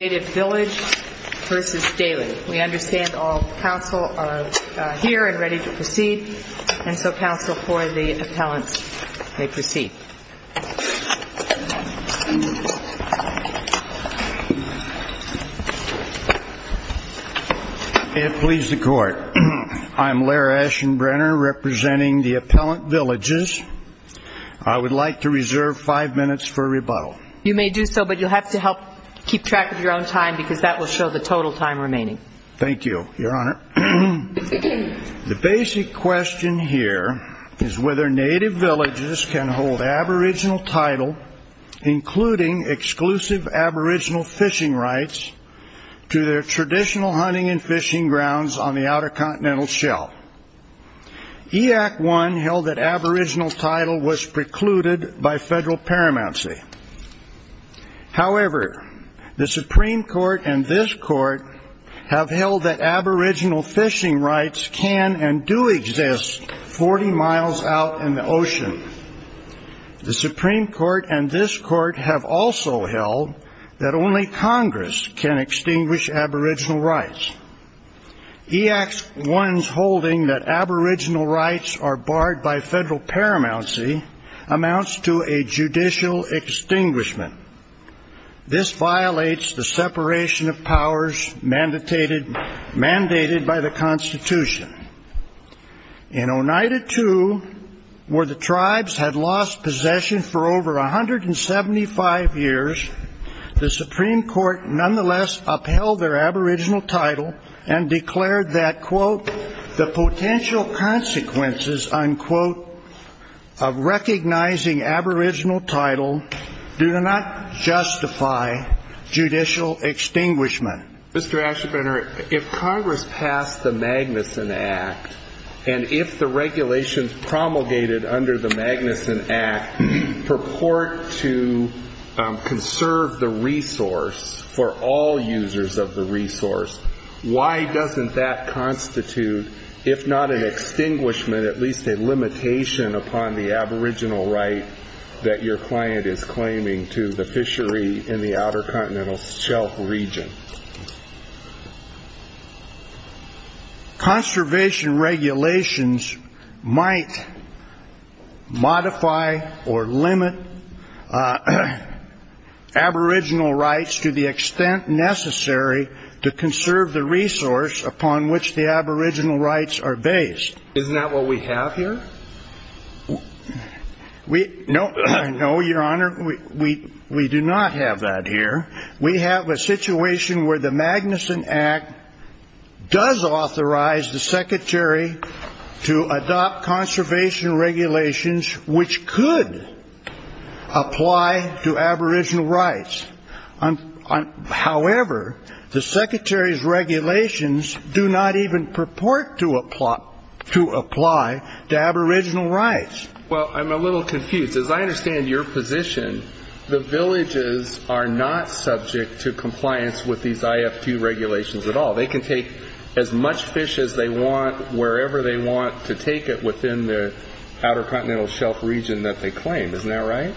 We understand all counsel are here and ready to proceed, and so counsel for the appellants may proceed. May it please the Court, I am Laird Ashenbrenner representing the Appellant Villages. I would like to reserve five minutes for rebuttal. You may do so, but you'll have to help keep track of your own time because that will show the total time remaining. Thank you, Your Honor. The basic question here is whether native villages can hold aboriginal title, including exclusive aboriginal fishing rights, to their traditional hunting and fishing grounds on the Outer Continental Shelf. EYAK 1 held that aboriginal title was precluded by federal paramountcy. However, the Supreme Court and this Court have held that aboriginal fishing rights can and do exist 40 miles out in the ocean. The Supreme Court and this Court have also held that only Congress can extinguish aboriginal rights. EYAK 1's holding that aboriginal rights are barred by federal paramountcy amounts to a judicial extinguishment. This violates the separation of powers mandated by the Constitution. In Oneida II, where the tribes had lost possession for over 175 years, the Supreme Court nonetheless upheld their aboriginal title and declared that, quote, the potential consequences, unquote, of recognizing aboriginal title do not justify judicial extinguishment. Mr. Aschenbrenner, if Congress passed the Magnuson Act, and if the regulations promulgated under the Magnuson Act purport to conserve the resource for all users of the resource, why doesn't that constitute, if not an extinguishment, at least a limitation upon the aboriginal right that your client is claiming to the fishery in the Outer Continental Shelf region? Conservation regulations might modify or limit aboriginal rights to the extent necessary to conserve the resource upon which the aboriginal rights are based. Isn't that what we have here? No, Your Honor, we do not have that here. We have a situation where the Magnuson Act does authorize the Secretary to adopt conservation regulations which could apply to aboriginal rights. However, the Secretary's regulations do not even purport to apply to aboriginal rights. Well, I'm a little confused. As I understand your position, the villages are not subject to compliance with these IFQ regulations at all. They can take as much fish as they want wherever they want to take it within the Outer Continental Shelf region that they claim. Isn't that right?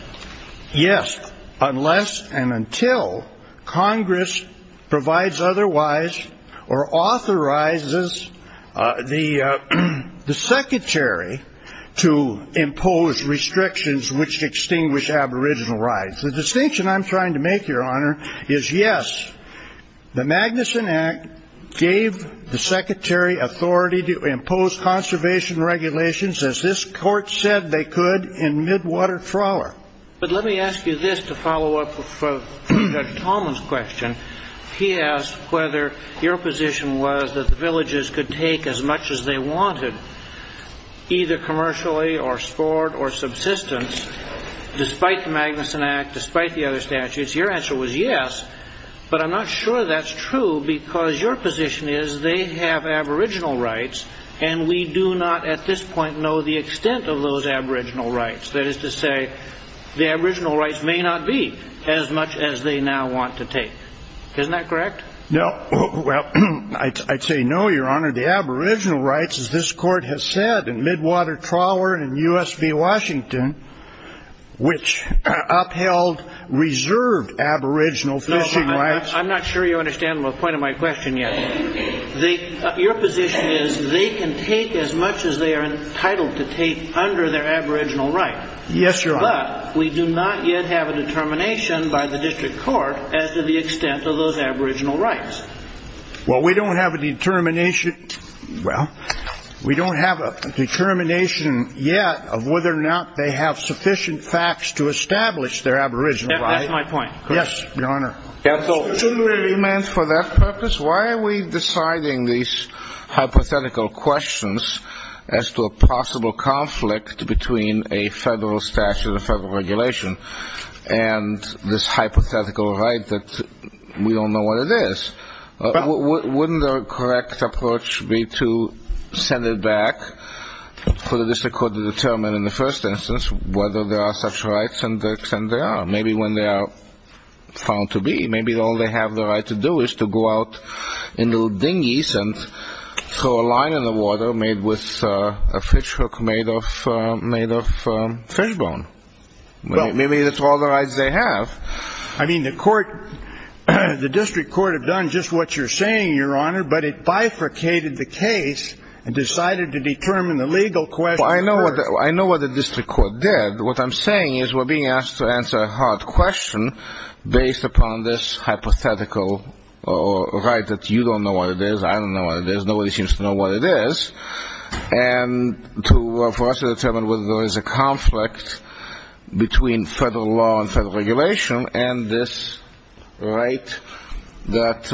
Yes, unless and until Congress provides otherwise or authorizes the Secretary to impose restrictions which extinguish aboriginal rights. The distinction I'm trying to make, Your Honor, is yes, the Magnuson Act gave the Secretary authority to impose conservation regulations, as this Court said they could, in midwater trawler. But let me ask you this to follow up with Judge Tallman's question. He asked whether your position was that the villages could take as much as they wanted, either commercially or sport or subsistence, despite the Magnuson Act, despite the other statutes. Your answer was yes, but I'm not sure that's true because your position is they have aboriginal rights, and we do not at this point know the extent of those aboriginal rights. That is to say the aboriginal rights may not be as much as they now want to take. Isn't that correct? No. Well, I'd say no, Your Honor. No, but I'm not sure you understand the point of my question yet. Your position is they can take as much as they are entitled to take under their aboriginal right. Yes, Your Honor. But we do not yet have a determination by the district court as to the extent of those aboriginal rights. Well, we don't have a determination. Well, we don't have a determination yet of whether or not they have sufficient facts to establish their aboriginal right. That's my point. Yes, Your Honor. Mr. Truman, for that purpose, why are we deciding these hypothetical questions as to a possible conflict between a federal statute, a federal regulation, and this hypothetical right that we don't know what it is? Wouldn't the correct approach be to send it back for the district court to determine in the first instance whether there are such rights and the extent there are, maybe when they are found to be. Maybe all they have the right to do is to go out in their dinghies and throw a line in the water made with a fish hook made of fish bone. Maybe that's all the rights they have. I mean, the court, the district court have done just what you're saying, Your Honor, but it bifurcated the case and decided to determine the legal question first. Well, I know what the district court did. What I'm saying is we're being asked to answer a hard question based upon this hypothetical right that you don't know what it is, I don't know what it is, nobody seems to know what it is, and for us to determine whether there is a conflict between federal law and federal regulation and this right that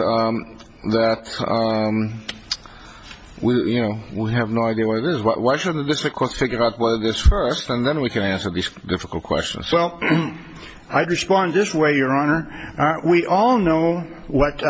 we have no idea what it is, why shouldn't the district court figure out what it is first and then we can answer these difficult questions. Well, I'd respond this way, Your Honor. We all know what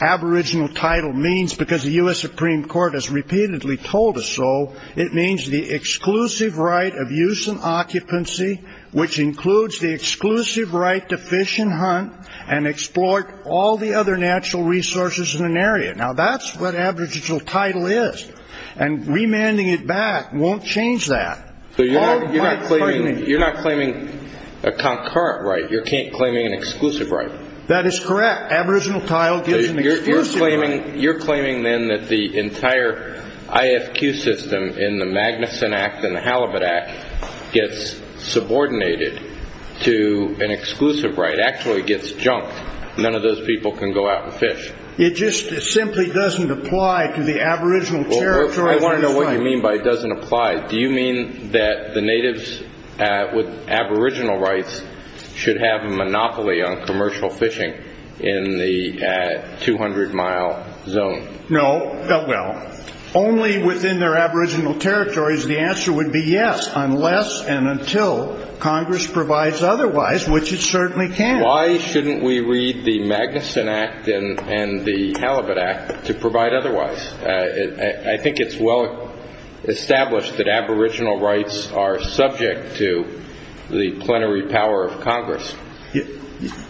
aboriginal title means because the U.S. Supreme Court has repeatedly told us so. It means the exclusive right of use and occupancy, which includes the exclusive right to fish and hunt and exploit all the other natural resources in an area. Now, that's what aboriginal title is, and remanding it back won't change that. So you're not claiming a concurrent right. You're claiming an exclusive right. That is correct. You're claiming then that the entire IFQ system in the Magnuson Act and the Halibut Act gets subordinated to an exclusive right, actually gets junked, none of those people can go out and fish. It just simply doesn't apply to the aboriginal territory. I want to know what you mean by it doesn't apply. Do you mean that the natives with aboriginal rights should have a monopoly on commercial fishing in the 200-mile zone? No. Well, only within their aboriginal territories. The answer would be yes, unless and until Congress provides otherwise, which it certainly can. Why shouldn't we read the Magnuson Act and the Halibut Act to provide otherwise? I think it's well established that aboriginal rights are subject to the plenary power of Congress.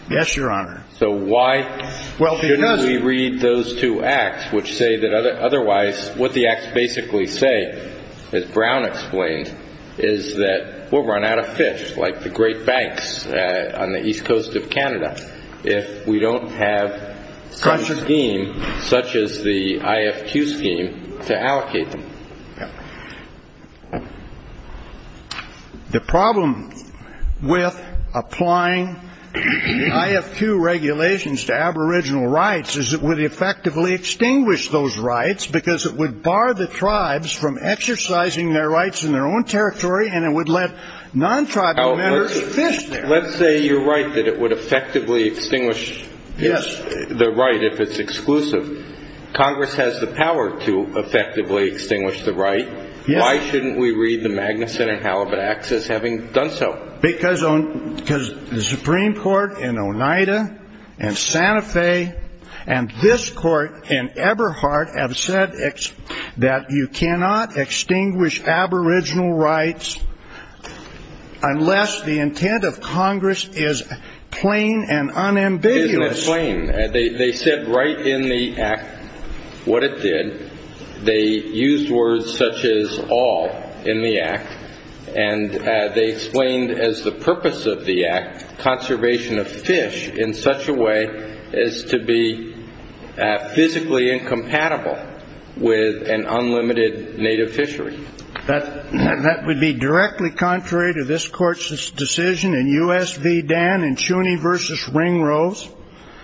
Yes, Your Honor. So why shouldn't we read those two acts, which say that otherwise, what the acts basically say, as Brown explained, is that we'll run out of fish, like the great banks on the east coast of Canada, if we don't have some scheme, such as the IFQ scheme, to allocate them? The problem with applying the IFQ regulations to aboriginal rights is it would effectively extinguish those rights because it would bar the tribes from exercising their rights in their own territory, and it would let non-tribal members fish there. Let's say you're right that it would effectively extinguish the right if it's exclusive. Congress has the power to effectively extinguish the right. Why shouldn't we read the Magnuson and Halibut Acts as having done so? Because the Supreme Court in Oneida and Santa Fe and this Court in Eberhart have said that you cannot extinguish aboriginal rights unless the intent of Congress is plain and unambiguous. It is plain. They said right in the act what it did. They used words such as all in the act, and they explained as the purpose of the act, conservation of fish in such a way as to be physically incompatible with an unlimited native fishery. That would be directly contrary to this Court's decision in U.S. v. Dan in Cheney v. Ringroves?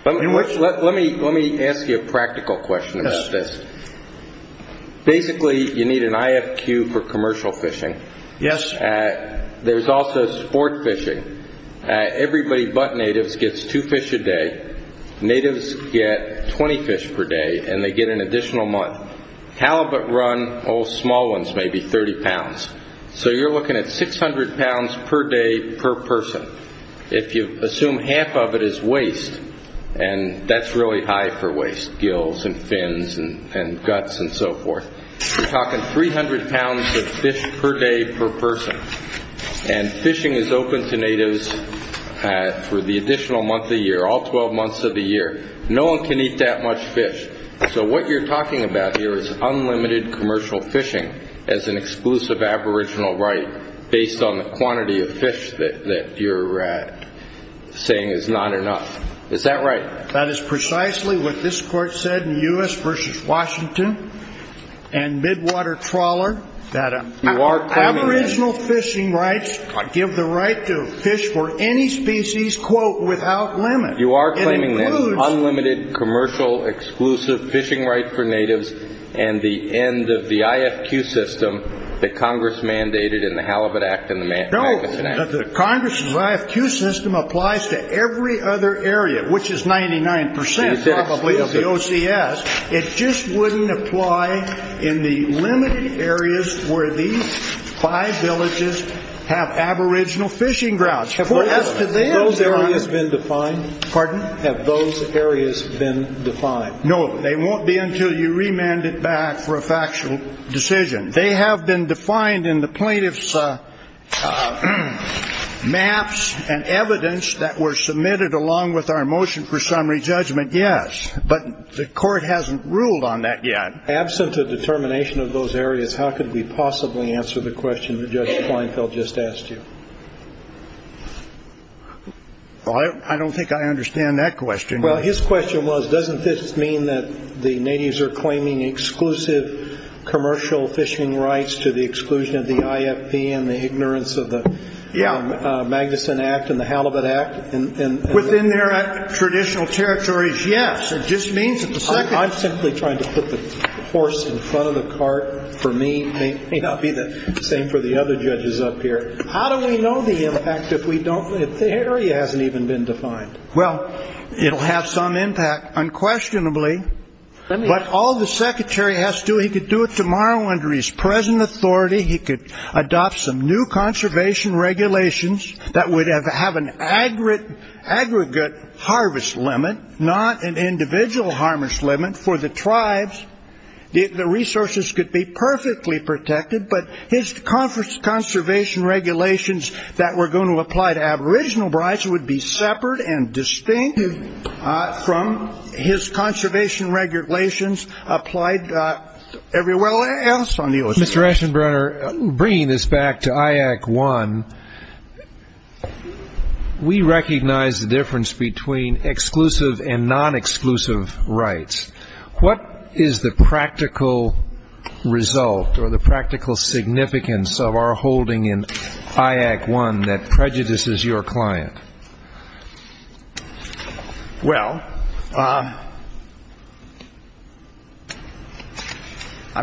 Let me ask you a practical question about this. Basically, you need an IFQ for commercial fishing. Yes. There's also sport fishing. Everybody but natives gets two fish a day. Natives get 20 fish per day, and they get an additional month. Halibut run, all small ones, maybe 30 pounds. So you're looking at 600 pounds per day per person. If you assume half of it is waste, and that's really high for waste, gills and fins and guts and so forth. You're talking 300 pounds of fish per day per person. And fishing is open to natives for the additional month of the year, all 12 months of the year. No one can eat that much fish. So what you're talking about here is unlimited commercial fishing as an exclusive aboriginal right based on the quantity of fish that you're saying is not enough. Is that right? That is precisely what this Court said in U.S. v. Washington and Midwater Trawler. You are claiming that. Aboriginal fishing rights give the right to fish for any species, quote, without limit. You are claiming that. It includes. Unlimited commercial exclusive fishing right for natives and the end of the IFQ system that Congress mandated in the Halibut Act and the Magnuson Act. The Congress' IFQ system applies to every other area, which is 99 percent, probably, of the OCS. It just wouldn't apply in the limited areas where these five villages have aboriginal fishing grounds. Have those areas been defined? Pardon? Have those areas been defined? No, they won't be until you remand it back for a factual decision. They have been defined in the plaintiff's maps and evidence that were submitted along with our motion for summary judgment, yes. But the Court hasn't ruled on that yet. Absent a determination of those areas, how could we possibly answer the question that Judge Kleinfeld just asked you? I don't think I understand that question. Well, his question was, doesn't this mean that the natives are claiming exclusive commercial fishing rights to the exclusion of the IFP and the ignorance of the Magnuson Act and the Halibut Act? Within their traditional territories, yes. It just means that the second. I'm simply trying to put the horse in front of the cart for me. It may not be the same for the other judges up here. How do we know the impact if the area hasn't even been defined? Well, it'll have some impact unquestionably. But all the secretary has to do, he could do it tomorrow under his present authority. He could adopt some new conservation regulations that would have an aggregate harvest limit, not an individual harvest limit for the tribes. The resources could be perfectly protected, but his conservation regulations that were going to apply to aboriginal brides would be separate and distinct from his conservation regulations applied everywhere else on the ocean. Mr. Eschenbrenner, bringing this back to IAC 1, we recognize the difference between exclusive and non-exclusive rights. What is the practical result or the practical significance of our holding in IAC 1 that prejudices your client? Well, I'm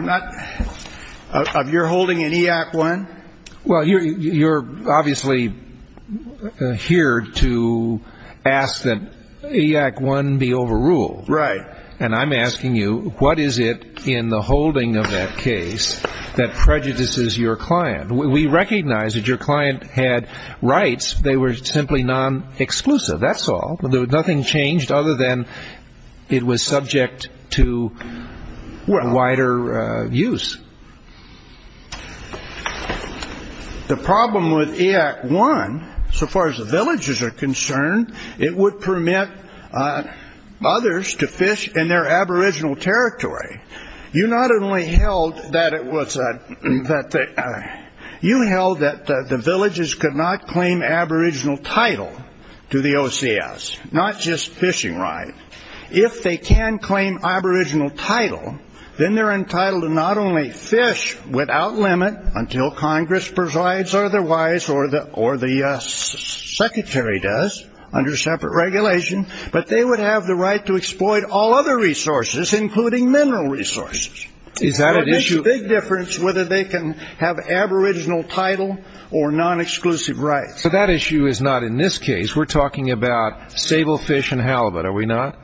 not—of your holding in IAC 1? Well, you're obviously here to ask that IAC 1 be overruled. Right. And I'm asking you, what is it in the holding of that case that prejudices your client? We recognize that your client had rights. They were simply non-exclusive, that's all. Nothing changed other than it was subject to wider use. The problem with IAC 1, so far as the villages are concerned, it would permit others to fish in their aboriginal territory. You not only held that it was—you held that the villages could not claim aboriginal title to the OCS, not just fishing rights. If they can claim aboriginal title, then they're entitled to not only fish without limit until Congress provides otherwise, or the secretary does, under separate regulation, but they would have the right to exploit all other resources, including mineral resources. Is that an issue? So it makes a big difference whether they can have aboriginal title or non-exclusive rights. So that issue is not in this case. We're talking about sablefish and halibut, are we not?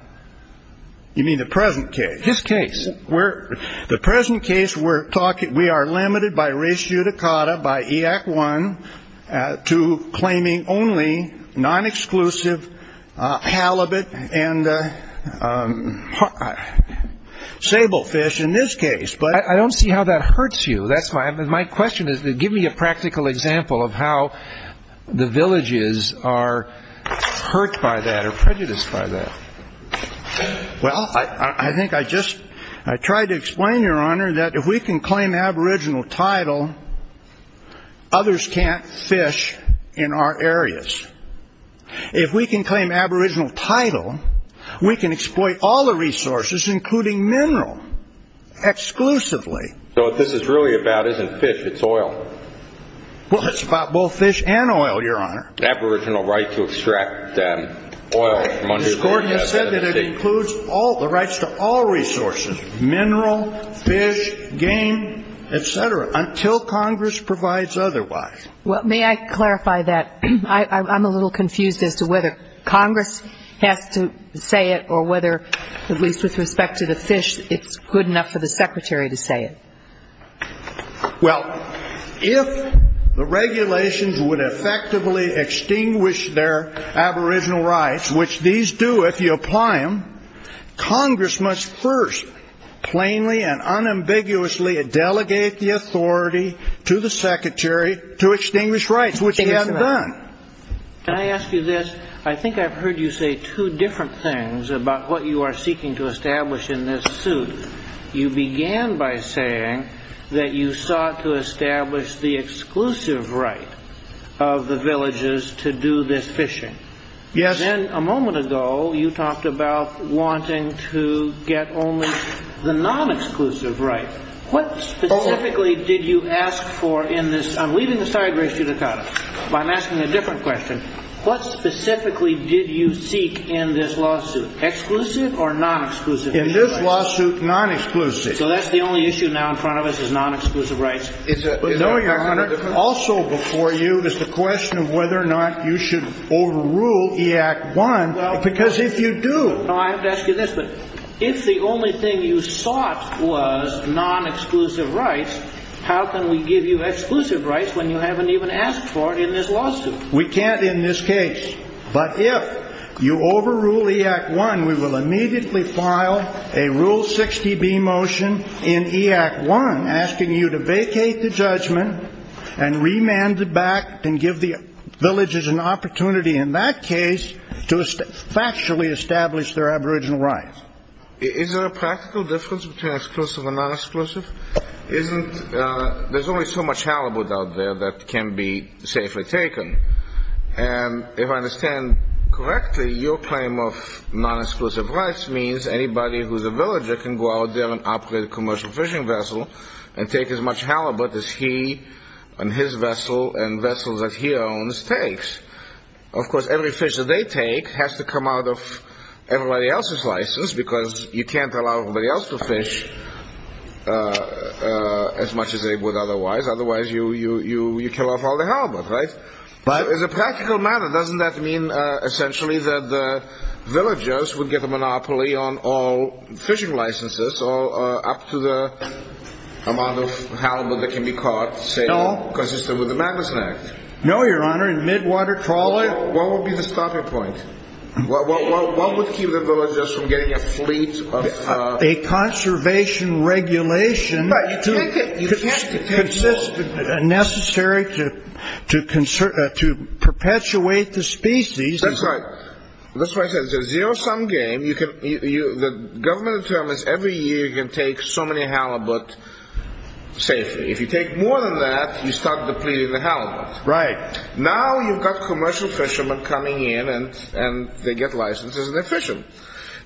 You mean the present case? This case. The present case, we are limited by ratio to cotta by IAC 1 to claiming only non-exclusive halibut and sablefish in this case. I don't see how that hurts you. My question is, give me a practical example of how the villages are hurt by that or prejudiced by that. Well, I think I just tried to explain, Your Honor, that if we can claim aboriginal title, others can't fish in our areas. If we can claim aboriginal title, we can exploit all the resources, including mineral, exclusively. So what this is really about isn't fish. It's oil. Well, it's about both fish and oil, Your Honor. Aboriginal right to extract oil. Mr. Gordon, you said that it includes the rights to all resources, mineral, fish, game, et cetera, until Congress provides otherwise. Well, may I clarify that? I'm a little confused as to whether Congress has to say it or whether, at least with respect to the fish, it's good enough for the Secretary to say it. Well, if the regulations would effectively extinguish their aboriginal rights, which these do if you apply them, Congress must first plainly and unambiguously delegate the authority to the Secretary to extinguish rights, which he hasn't done. Can I ask you this? I think I've heard you say two different things about what you are seeking to establish in this suit. You began by saying that you sought to establish the exclusive right of the villages to do this fishing. Yes. And then a moment ago, you talked about wanting to get only the non-exclusive right. What specifically did you ask for in this? I'm leaving aside race judicata, but I'm asking a different question. What specifically did you seek in this lawsuit, exclusive or non-exclusive? In this lawsuit, non-exclusive. So that's the only issue now in front of us is non-exclusive rights? Also before you is the question of whether or not you should overrule E-Act I, because if you do... I have to ask you this, but if the only thing you sought was non-exclusive rights, how can we give you exclusive rights when you haven't even asked for it in this lawsuit? We can't in this case. But if you overrule E-Act I, we will immediately file a Rule 60B motion in E-Act I asking you to vacate the judgment and remand it back and give the villages an opportunity in that case to factually establish their aboriginal rights. Is there a practical difference between exclusive and non-exclusive? There's only so much halibut out there that can be safely taken. And if I understand correctly, your claim of non-exclusive rights means anybody who's a villager can go out there and operate a commercial fishing vessel and take as much halibut as he and his vessel and vessels that he owns takes. Of course, every fish that they take has to come out of everybody else's license because you can't allow everybody else to fish as much as they would otherwise. Otherwise, you kill off all the halibut, right? So as a practical matter, doesn't that mean essentially that the villagers would get a monopoly on all fishing licenses up to the amount of halibut that can be caught, say, consistent with the Magnus Act? No, Your Honor. In midwater trawling... What would be the stopping point? What would keep the villagers from getting a fleet of... A conservation regulation... But you can't... Consistent and necessary to perpetuate the species... That's right. That's why I said it's a zero-sum game. The government determines every year you can take so many halibut safely. If you take more than that, you start depleting the halibut. Right. Now you've got commercial fishermen coming in and they get licenses and they're fishermen.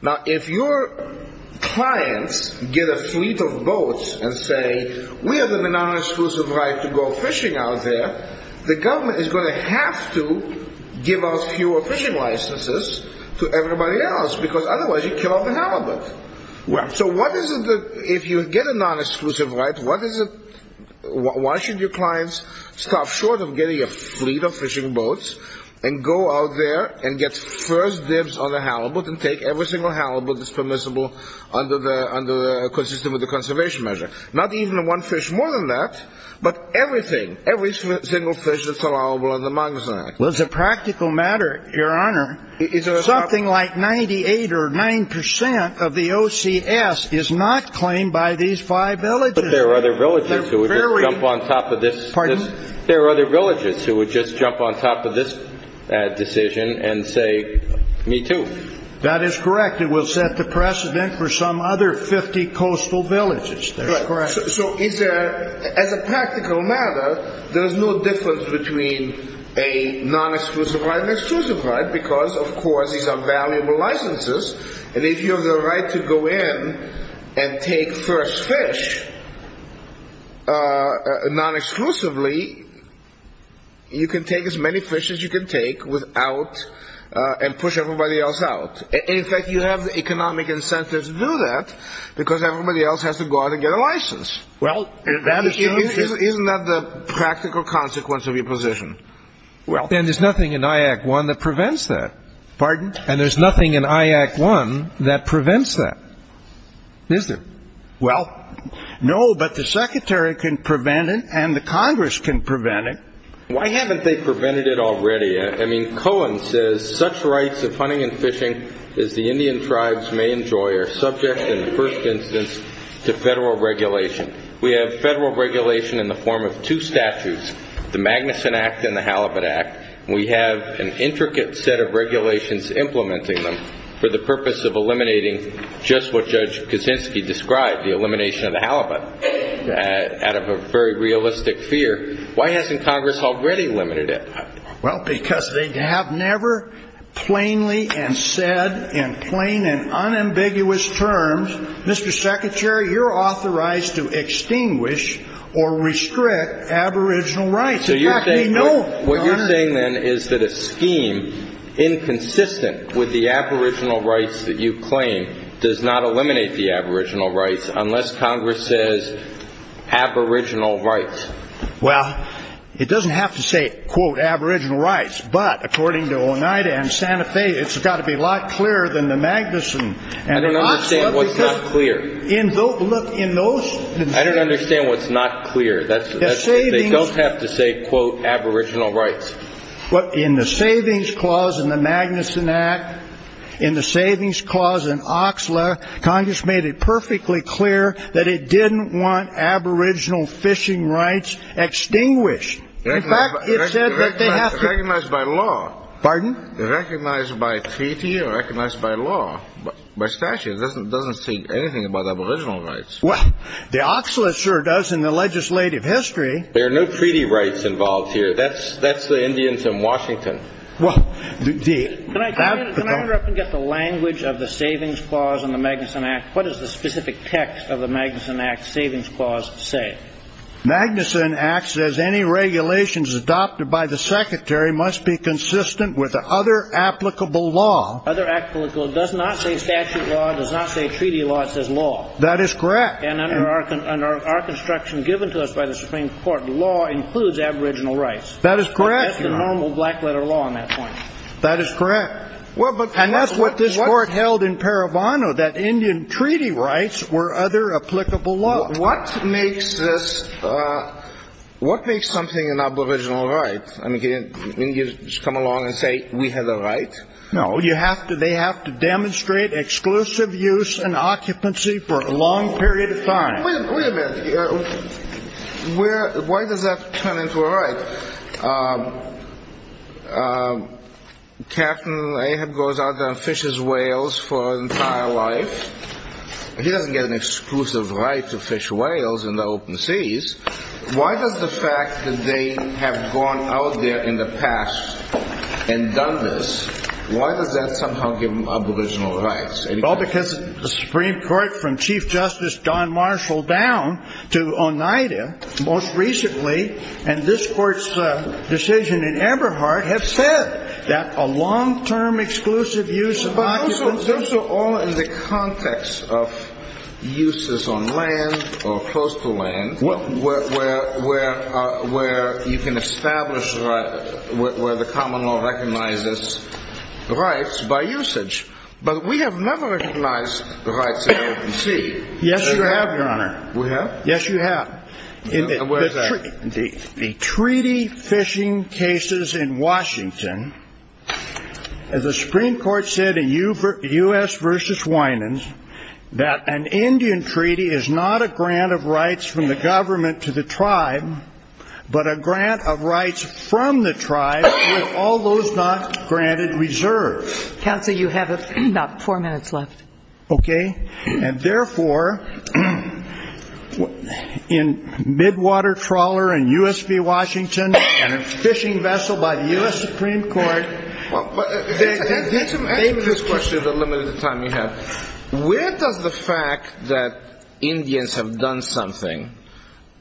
Now if your clients get a fleet of boats and say, we have the non-exclusive right to go fishing out there, the government is going to have to give us fewer fishing licenses to everybody else because otherwise you kill off the halibut. So what is it that... If you get a non-exclusive right, what is it... Why should your clients stop short of getting a fleet of fishing boats and go out there and get first dibs on the halibut and take every single halibut that's permissible under the... Consistent with the conservation measure. Not even one fish more than that, but everything. Every single fish that's allowable under the Magnuson Act. Well, it's a practical matter, Your Honor. Something like 98 or 9% of the OCS is not claimed by these five villages. But there are other villages who would just jump on top of this... Pardon? There are other villages who would just jump on top of this decision and say, me too. That is correct. It will set the precedent for some other 50 coastal villages. Correct. So is there... As a practical matter, there is no difference between a non-exclusive right and an exclusive right because, of course, these are valuable licenses. And if you have the right to go in and take first fish non-exclusively, you can take as many fish as you can take without... and push everybody else out. In fact, you have the economic incentives to do that because everybody else has to go out and get a license. Isn't that the practical consequence of your position? Well... And there's nothing in I Act I that prevents that. Pardon? And there's nothing in I Act I that prevents that. Is there? Well, no, but the Secretary can prevent it and the Congress can prevent it. Why haven't they prevented it already? I mean, Cohen says, such rights of hunting and fishing as the Indian tribes may enjoy are subject, in the first instance, to federal regulation. We have federal regulation in the form of two statutes, the Magnuson Act and the Halibut Act. We have an intricate set of regulations implementing them for the purpose of eliminating just what Judge Kaczynski described, the elimination of the halibut, out of a very realistic fear. Why hasn't Congress already limited it? Well, because they have never plainly and said in plain and unambiguous terms, Mr. Secretary, you're authorized to extinguish or restrict Aboriginal rights. What you're saying then is that a scheme inconsistent with the Aboriginal rights that you claim does not eliminate the Aboriginal rights unless Congress says Aboriginal rights. Well, it doesn't have to say, quote, Aboriginal rights, but according to Oneida and Santa Fe, it's got to be a lot clearer than the Magnuson. I don't understand what's not clear. I don't understand what's not clear. They don't have to say, quote, Aboriginal rights. In the savings clause in the Magnuson Act, in the savings clause in OXLA, Congress made it perfectly clear that it didn't want Aboriginal fishing rights extinguished. In fact, it said that they have to. Recognized by law. Pardon? Recognized by treaty or recognized by law, by statute. It doesn't say anything about Aboriginal rights. Well, the OXLA sure does in the legislative history. There are no treaty rights involved here. That's the Indians in Washington. Can I interrupt and get the language of the savings clause in the Magnuson Act? What does the specific text of the Magnuson Act savings clause say? Magnuson Act says any regulations adopted by the Secretary must be consistent with other applicable law. Other applicable. It does not say statute law. It does not say treaty law. It says law. That is correct. And under our construction given to us by the Supreme Court, law includes Aboriginal rights. That is correct. That's the normal black letter law on that point. That is correct. And that's what this Court held in Parabono, that Indian treaty rights were other applicable law. What makes this, what makes something an Aboriginal right? I mean, can you just come along and say we have the right? No, you have to. They have to demonstrate exclusive use and occupancy for a long period of time. Wait a minute. Why does that turn into a right? Captain Ahab goes out there and fishes whales for an entire life. He doesn't get an exclusive right to fish whales in the open seas. Why does the fact that they have gone out there in the past and done this, why does that somehow give them Aboriginal rights? Well, because the Supreme Court from Chief Justice Don Marshall down to Oneida most recently and this Court's decision in Eberhardt have said that a long-term exclusive use of occupancy. Those are all in the context of uses on land or coastal land where you can establish where the common law recognizes rights by usage. But we have never recognized the rights of the open sea. Yes, you have, Your Honor. We have? Yes, you have. Where is that? The treaty fishing cases in Washington, as the Supreme Court said in U.S. v. Winans, that an Indian treaty is not a grant of rights from the government to the tribe, but a grant of rights from the tribe with all those not granted reserve. Counsel, you have about four minutes left. Okay. And, therefore, in midwater trawler in U.S. v. Washington and a fishing vessel by the U.S. Supreme Court. Answer this question in the limited time you have. Where does the fact that Indians have done something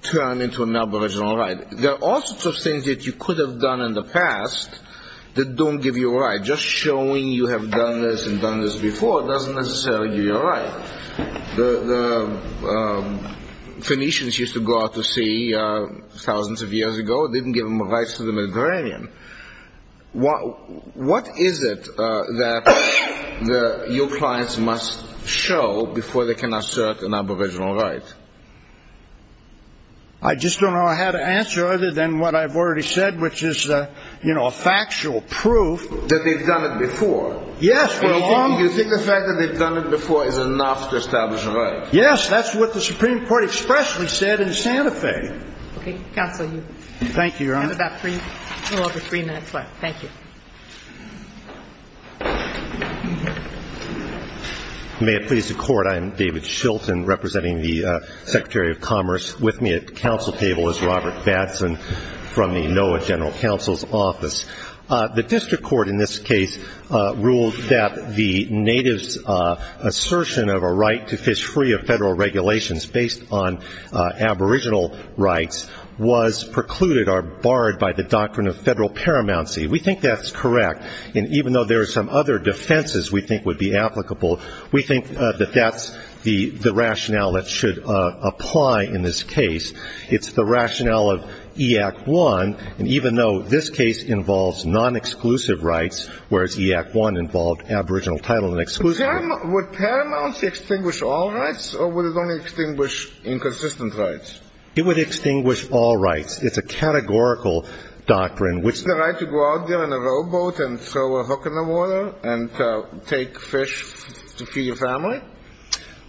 turn into an Aboriginal right? There are all sorts of things that you could have done in the past that don't give you a right. Just showing you have done this and done this before doesn't necessarily give you a right. The Phoenicians used to go out to sea thousands of years ago. They didn't give them rights to the Mediterranean. What is it that your clients must show before they can assert an Aboriginal right? I just don't know how to answer other than what I've already said, which is a factual proof that they've done it before. Yes. You think the fact that they've done it before is enough to establish a right? Yes. That's what the Supreme Court expressly said in Santa Fe. Okay. Counsel, you have a little over three minutes left. Thank you. I am David Shilton, representing the Secretary of Commerce. With me at the council table is Robert Batson from the NOAA General Counsel's Office. The district court in this case ruled that the natives' assertion of a right to fish free of federal regulations based on Aboriginal rights was precluded or barred by the doctrine of federal paramountcy. We think that's correct. And even though there are some other defenses we think would be applicable, we think that that's the rationale that should apply in this case. It's the rationale of E-Act I. And even though this case involves non-exclusive rights, whereas E-Act I involved Aboriginal title and exclusivity. Would paramountcy extinguish all rights, or would it only extinguish inconsistent rights? It would extinguish all rights. It's a categorical doctrine. Isn't it the right to go out there in a rowboat and throw a hook in the water and take fish to feed your family?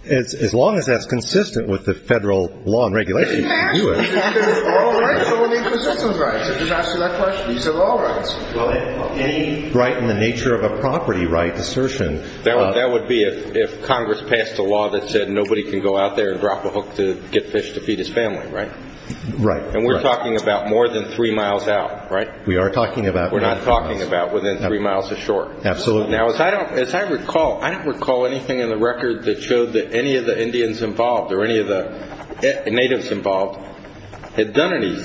As long as that's consistent with the federal law and regulation, you can do it. All right, so we need consistent rights. I just asked you that question. These are all rights. Well, any right in the nature of a property right assertion. That would be if Congress passed a law that said nobody can go out there and drop a hook to get fish to feed his family, right? Right. And we're talking about more than three miles out, right? We are talking about more than three miles. We're not talking about within three miles of shore. Absolutely. Now, as I recall, I don't recall anything in the record that showed that any of the Indians involved or any of the natives involved had done any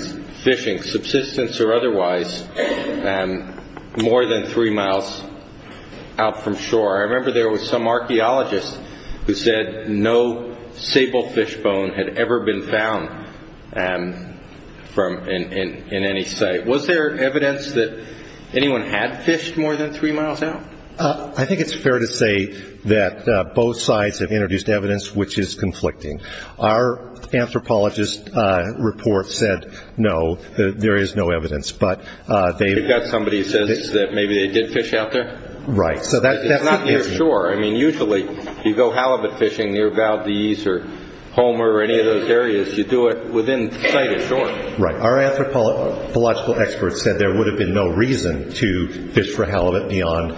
fishing, subsistence or otherwise, more than three miles out from shore. I remember there was some archaeologist who said no sable fish bone had ever been found in any site. Was there evidence that anyone had fished more than three miles out? I think it's fair to say that both sides have introduced evidence which is conflicting. Our anthropologist report said no, that there is no evidence. You've got somebody who says that maybe they did fish out there? Right. It's not near shore. I mean, usually you go halibut fishing near Valdez or Homer or any of those areas. You do it within sight of shore. Right. Our anthropological experts said there would have been no reason to fish for halibut beyond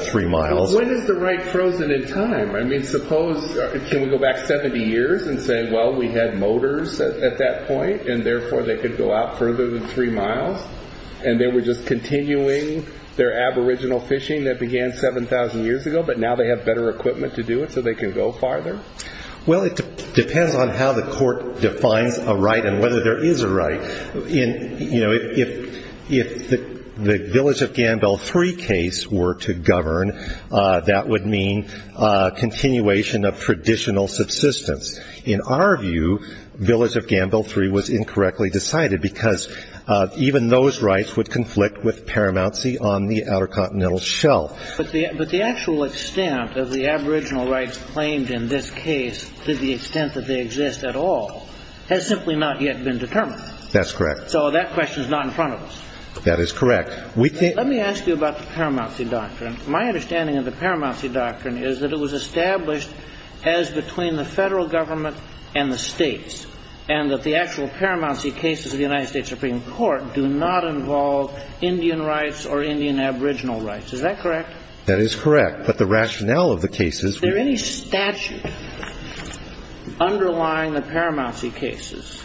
three miles. When is the right frozen in time? I mean, suppose, can we go back 70 years and say, well, we had motors at that point and therefore they could go out further than three miles and they were just continuing their aboriginal fishing that began 7,000 years ago but now they have better equipment to do it so they can go farther? Well, it depends on how the court defines a right and whether there is a right. If the Village of Gambell Three case were to govern, that would mean continuation of traditional subsistence. In our view, Village of Gambell Three was incorrectly decided because even those rights would conflict with paramountcy on the outer continental shelf. But the actual extent of the aboriginal rights claimed in this case, to the extent that they exist at all, has simply not yet been determined. That's correct. So that question is not in front of us. That is correct. Let me ask you about the paramountcy doctrine. My understanding of the paramountcy doctrine is that it was established as between the federal government and the states and that the actual paramountcy cases of the United States Supreme Court do not involve Indian rights or Indian aboriginal rights. Is that correct? That is correct. But the rationale of the cases... Is there any statute underlying the paramountcy cases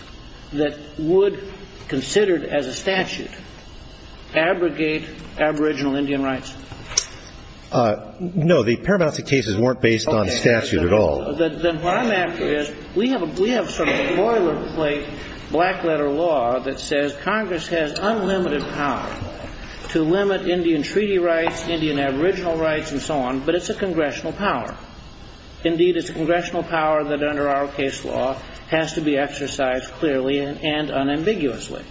that would, considered as a statute, abrogate aboriginal Indian rights? No, the paramountcy cases weren't based on statute at all. What I'm after is, we have sort of a boilerplate black letter law that says Congress has unlimited power to limit Indian treaty rights, Indian aboriginal rights, and so on, but it's a congressional power. Indeed, it's a congressional power that under our case law has to be exercised clearly and unambiguously.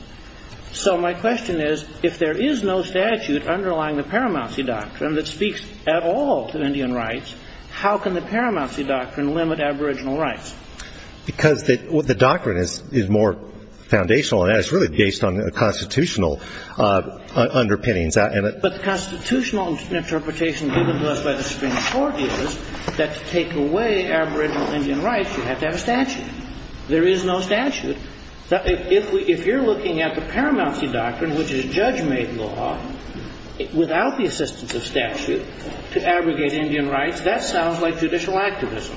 So my question is, if there is no statute underlying the paramountcy doctrine that speaks at all to Indian rights, how can the paramountcy doctrine limit aboriginal rights? Because the doctrine is more foundational, and it's really based on constitutional underpinnings. But the constitutional interpretation given to us by the Supreme Court is that to take away aboriginal Indian rights, you have to have a statute. There is no statute. If you're looking at the paramountcy doctrine, which is a judge-made law, without the assistance of statute, to abrogate Indian rights, that sounds like judicial activism.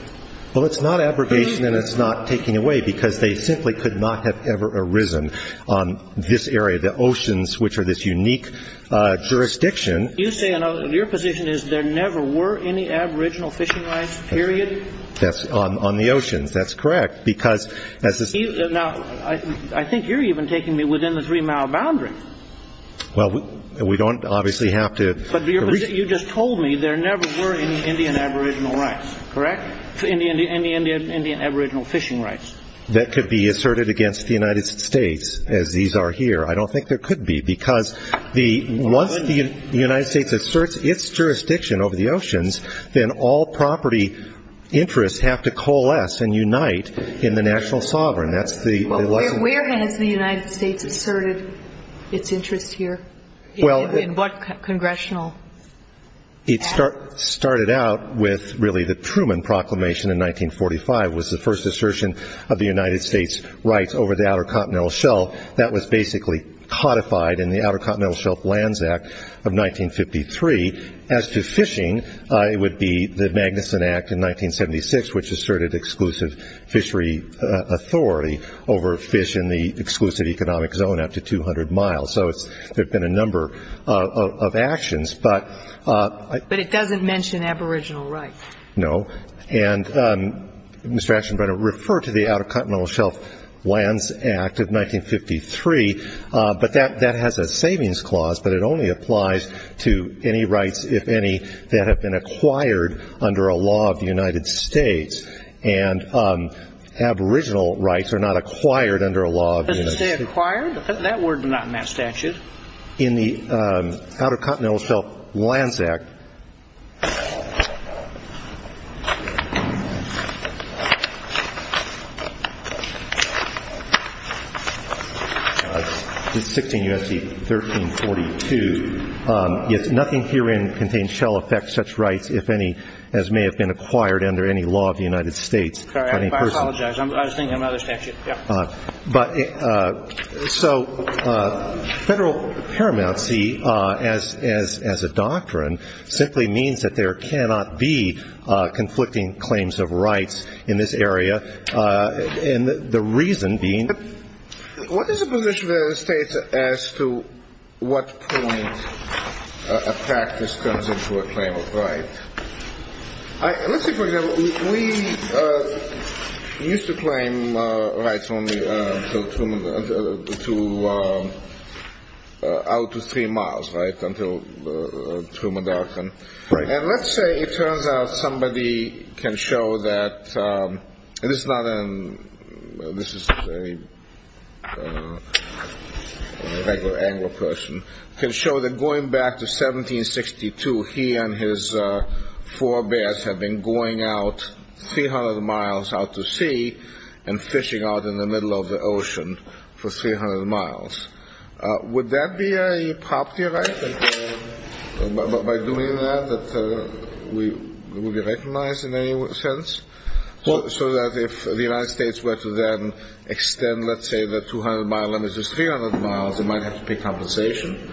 Well, it's not abrogation, and it's not taking away, because they simply could not have ever arisen on this area, the oceans, which are this unique jurisdiction. You're saying your position is there never were any aboriginal fishing rights, period? That's on the oceans. That's correct, because as the Supreme Court... Now, I think you're even taking me within the three-mile boundary. Well, we don't obviously have to... But you just told me there never were any Indian aboriginal rights, correct? Any Indian aboriginal fishing rights. That could be asserted against the United States, as these are here. I don't think there could be, because once the United States asserts its jurisdiction over the oceans, then all property interests have to coalesce and unite in the national sovereign. Where has the United States asserted its interest here? In what congressional act? It started out with really the Truman Proclamation in 1945. It was the first assertion of the United States' rights over the outer continental shelf. That was basically codified in the Outer Continental Shelf Lands Act of 1953. As to fishing, it would be the Magnuson Act in 1976, which asserted exclusive fishery authority over fish in the exclusive economic zone up to 200 miles. So there have been a number of actions. But... But it doesn't mention aboriginal rights. No. And Mr. Aschenbrenner, refer to the Outer Continental Shelf Lands Act of 1953. But that has a savings clause, but it only applies to any rights, if any, that have been acquired under a law of the United States. And aboriginal rights are not acquired under a law of the United States. Are they acquired? That word is not in that statute. In the Outer Continental Shelf Lands Act... 16 U.S.C. 1342, nothing herein contains shall affect such rights, if any, as may have been acquired under any law of the United States. Sorry, I apologize. I was thinking of another statute. But so federal paramountcy, as a doctrine, simply means that there cannot be conflicting claims of rights in this area, and the reason being... What is the position of the United States as to what point a practice comes into a claim of right? Let's say, for example, we used to claim rights only out to three miles, right, until Truman Doctrine. Right. And let's say it turns out somebody can show that... This is a regular Anglo person. Can show that going back to 1762, he and his four bears had been going out 300 miles out to sea and fishing out in the middle of the ocean for 300 miles. Would that be a property right, by doing that, that we would be recognized in any sense? So that if the United States were to then extend, let's say, the 200-mile limit to 300 miles, it might have to pay compensation?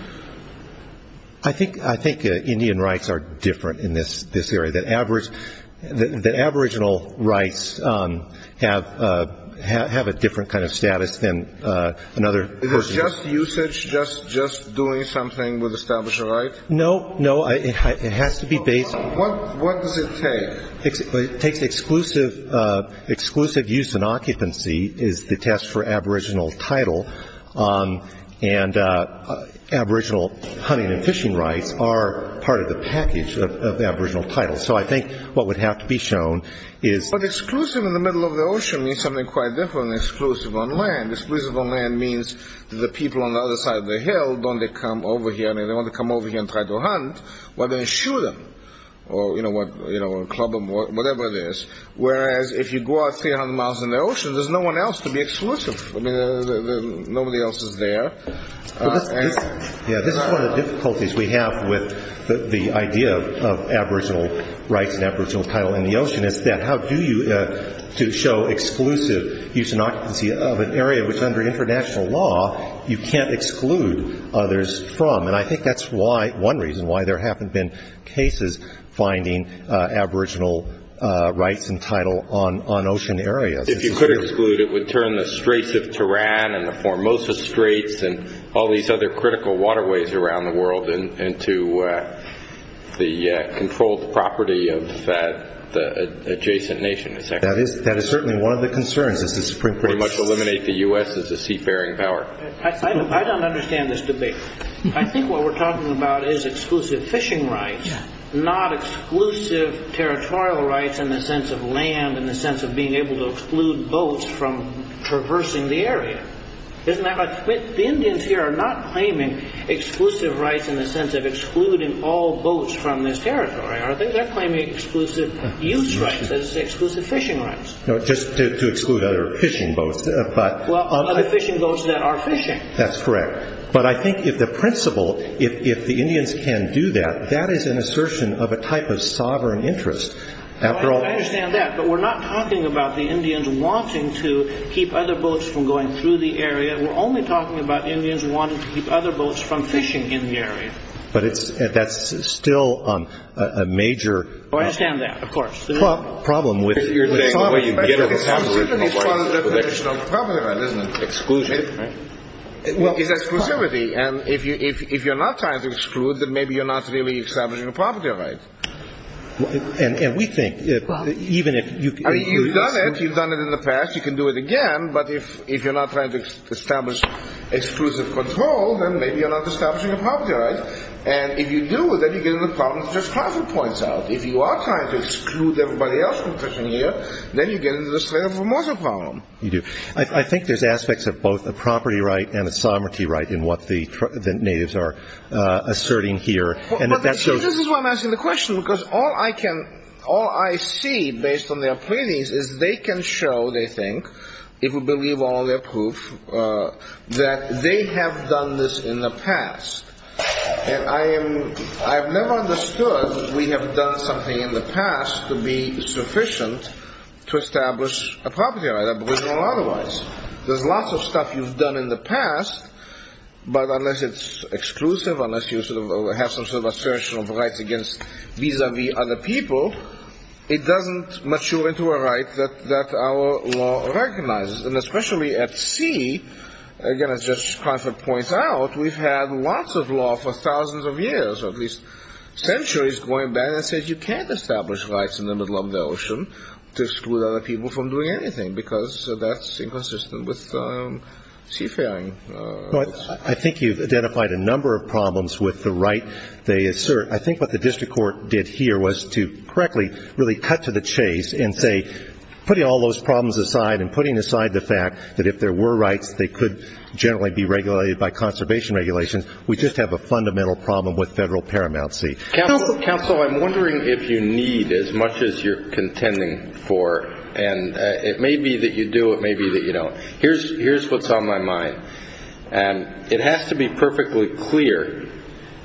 I think Indian rights are different in this area. The aboriginal rights have a different kind of status than another person. Is this just usage, just doing something with establishing a right? No, no, it has to be based... What does it take? It takes exclusive use and occupancy is the test for aboriginal title, and aboriginal hunting and fishing rights are part of the package of aboriginal titles. So I think what would have to be shown is... But exclusive in the middle of the ocean means something quite different than exclusive on land. Exclusive on land means that the people on the other side of the hill, don't they come over here, I mean, they want to come over here and try to hunt, whether they shoot them or club them or whatever it is, whereas if you go out 300 miles in the ocean, there's no one else to be exclusive. I mean, nobody else is there. Yeah, this is one of the difficulties we have with the idea of aboriginal rights and aboriginal title in the ocean, is that how do you show exclusive use and occupancy of an area which under international law, you can't exclude others from? And I think that's one reason why there haven't been cases finding aboriginal rights and title on ocean areas. If you could exclude, it would turn the Straits of Tehran and the Formosa Straits and all these other critical waterways around the world into the controlled property of the adjacent nation. That is certainly one of the concerns. It would pretty much eliminate the U.S. as a seafaring power. I don't understand this debate. I think what we're talking about is exclusive fishing rights, not exclusive territorial rights in the sense of land, in the sense of being able to exclude boats from traversing the area. The Indians here are not claiming exclusive rights in the sense of excluding all boats from this territory. They're claiming exclusive use rights as exclusive fishing rights. Just to exclude other fishing boats. Other fishing boats that are fishing. That's correct. But I think if the principle, if the Indians can do that, that is an assertion of a type of sovereign interest. I understand that. But we're not talking about the Indians wanting to keep other boats from going through the area. We're only talking about Indians wanting to keep other boats from fishing in the area. But that's still a major… I understand that. Of course. The problem with… The problem is part of the definition of property right, isn't it? Exclusion, right? It's exclusivity. And if you're not trying to exclude, then maybe you're not really establishing a property right. And we think that even if you… I mean, you've done it. You've done it in the past. You can do it again. But if you're not trying to establish exclusive control, then maybe you're not establishing a property right. And if you do, then you get into the problem of just profit points out. If you are trying to exclude everybody else from fishing here, then you get into the slave-and-immortal problem. You do. I think there's aspects of both a property right and a sovereignty right in what the natives are asserting here. And if that shows… This is why I'm asking the question, because all I can… all I see based on their pleadings is they can show, they think, if we believe all their proof, that they have done this in the past. And I have never understood we have done something in the past to be sufficient to establish a property right, aboriginal or otherwise. There's lots of stuff you've done in the past, but unless it's exclusive, unless you have some sort of assertion of rights vis-a-vis other people, it doesn't mature into a right that our law recognizes. And especially at sea, again, as Justice Crawford points out, we've had lots of law for thousands of years, or at least centuries, going back that says you can't establish rights in the middle of the ocean to exclude other people from doing anything, because that's inconsistent with seafaring. I think you've identified a number of problems with the right they assert. I think what the district court did here was to correctly really cut to the chase and say putting all those problems aside and putting aside the fact that if there were rights, they could generally be regulated by conservation regulations. We just have a fundamental problem with federal paramount sea. Counsel, I'm wondering if you need as much as you're contending for, and it may be that you do, it may be that you don't. Here's what's on my mind. It has to be perfectly clear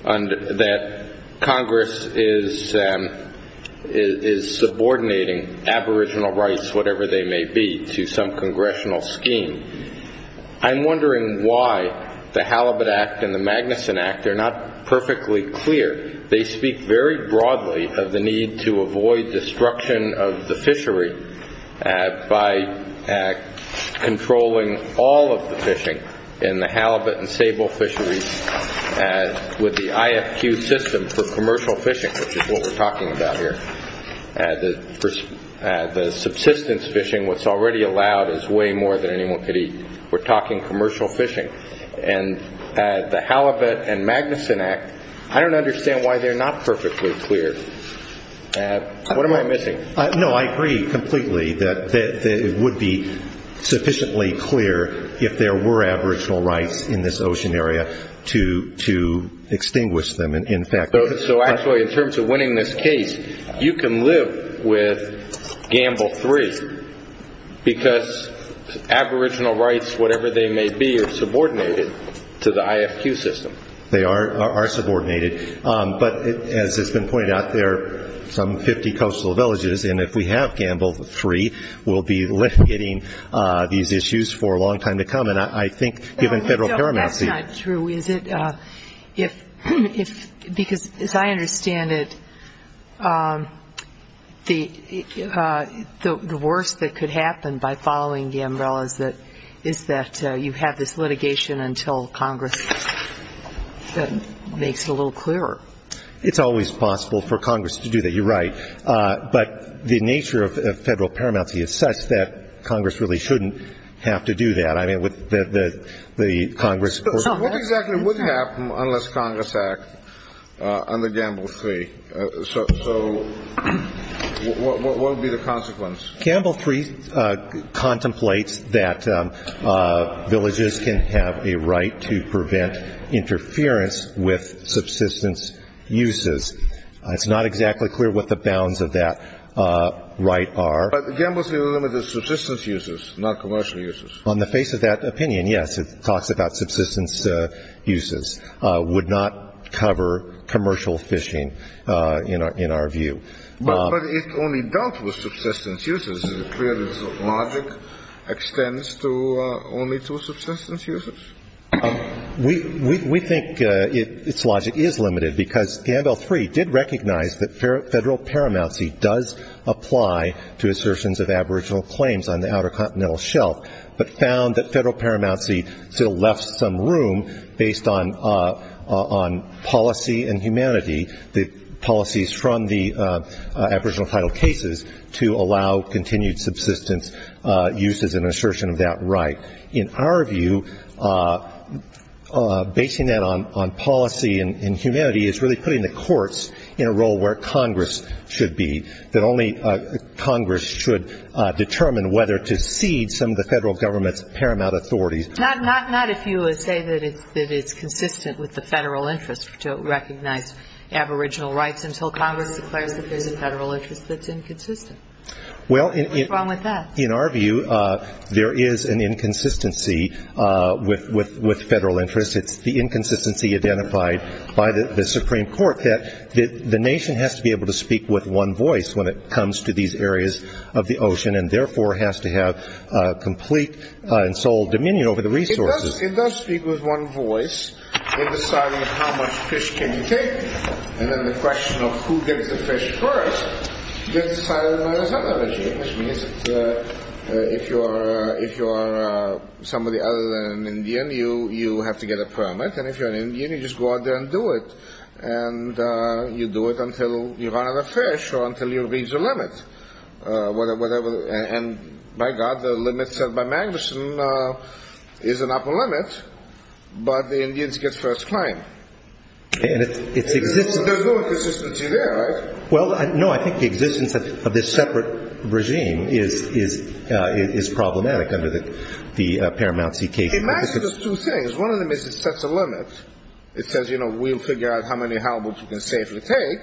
that Congress is subordinating aboriginal rights, whatever they may be, to some congressional scheme. I'm wondering why the Halibut Act and the Magnuson Act are not perfectly clear. They speak very broadly of the need to avoid destruction of the fishery by controlling all of the fishing in the Halibut and Sable fisheries with the IFQ system for commercial fishing, which is what we're talking about here. The subsistence fishing, what's already allowed, is way more than anyone could eat. We're talking commercial fishing. The Halibut and Magnuson Act, I don't understand why they're not perfectly clear. What am I missing? No, I agree completely that it would be sufficiently clear if there were aboriginal rights in this ocean area to extinguish them. Actually, in terms of winning this case, you can live with Gamble 3 because aboriginal rights, whatever they may be, are subordinated to the IFQ system. They are subordinated, but as has been pointed out, there are some 50 coastal villages, and if we have Gamble 3, we'll be lifting these issues for a long time to come. No, that's not true. Because as I understand it, the worst that could happen by following Gamble is that you have this litigation until Congress makes it a little clearer. It's always possible for Congress to do that. You're right. But the nature of federal paramount is such that Congress really shouldn't have to do that. What exactly would happen unless Congress acts under Gamble 3? So what would be the consequence? Gamble 3 contemplates that villages can have a right to prevent interference with subsistence uses. It's not exactly clear what the bounds of that right are. But Gamble 3 limited subsistence uses, not commercial uses. On the face of that opinion, yes, it talks about subsistence uses. It would not cover commercial fishing, in our view. But it only dealt with subsistence uses. Is it clear that its logic extends only to subsistence uses? We think its logic is limited because Gamble 3 did recognize that federal paramountcy does apply to assertions of aboriginal claims on the Outer Continental Shelf. But found that federal paramountcy still left some room based on policy and humanity, the policies from the aboriginal title cases, to allow continued subsistence uses and assertion of that right. In our view, basing that on policy and humanity is really putting the courts in a role where Congress should be, that only Congress should determine whether to cede some of the federal government's paramount authorities. Not if you would say that it's consistent with the federal interest to recognize aboriginal rights until Congress declares that there's a federal interest that's inconsistent. What's wrong with that? In our view, there is an inconsistency with federal interests. It's the inconsistency identified by the Supreme Court that the nation has to be able to speak with one voice when it comes to these areas of the ocean and therefore has to have complete and sole dominion over the resources. It does speak with one voice in deciding how much fish can you take. And then the question of who gets the fish first gets decided by the Southern Regime, which means that if you are somebody other than an Indian, you have to get a permit. And if you're an Indian, you just go out there and do it. And you do it until you run out of fish or until you reach a limit. And by God, the limit set by Magnuson is an upper limit, but the Indians get first claim. There's no inconsistency there, right? Well, no, I think the existence of this separate regime is problematic under the Paramount CK. It matches two things. One of them is it sets a limit. It says, you know, we'll figure out how many halibuts you can safely take.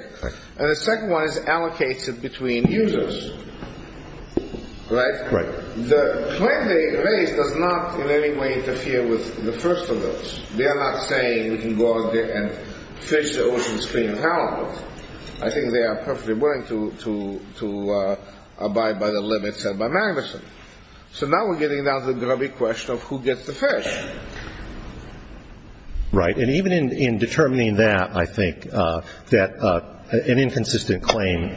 And the second one is it allocates it between users, right? Right. The claim they raise does not in any way interfere with the first of those. They are not saying we can go out there and fish the ocean's clean halibuts. I think they are perfectly willing to abide by the limits set by Magnuson. So now we're getting down to the grubby question of who gets the fish. Right. And even in determining that, I think that an inconsistent claim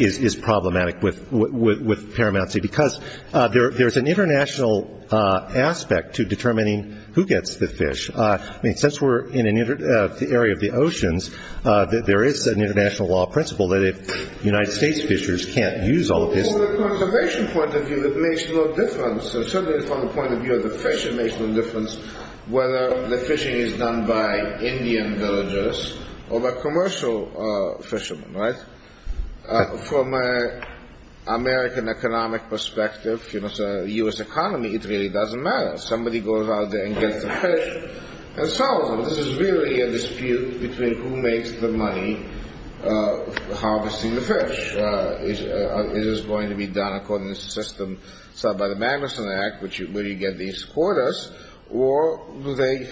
is problematic with Paramount C because there's an international aspect to determining who gets the fish. I mean, since we're in the area of the oceans, there is an international law principle that if United States fishers can't use all of this— Well, from the preservation point of view, it makes no difference. Certainly from the point of view of the fish, it makes no difference whether the fishing is done by Indian villagers or by commercial fishermen, right? From an American economic perspective, you know, the U.S. economy, it really doesn't matter. Somebody goes out there and gets the fish and sells them. This is really a dispute between who makes the money harvesting the fish. Is this going to be done according to the system set by the Magnuson Act, where you get these quarters, or do they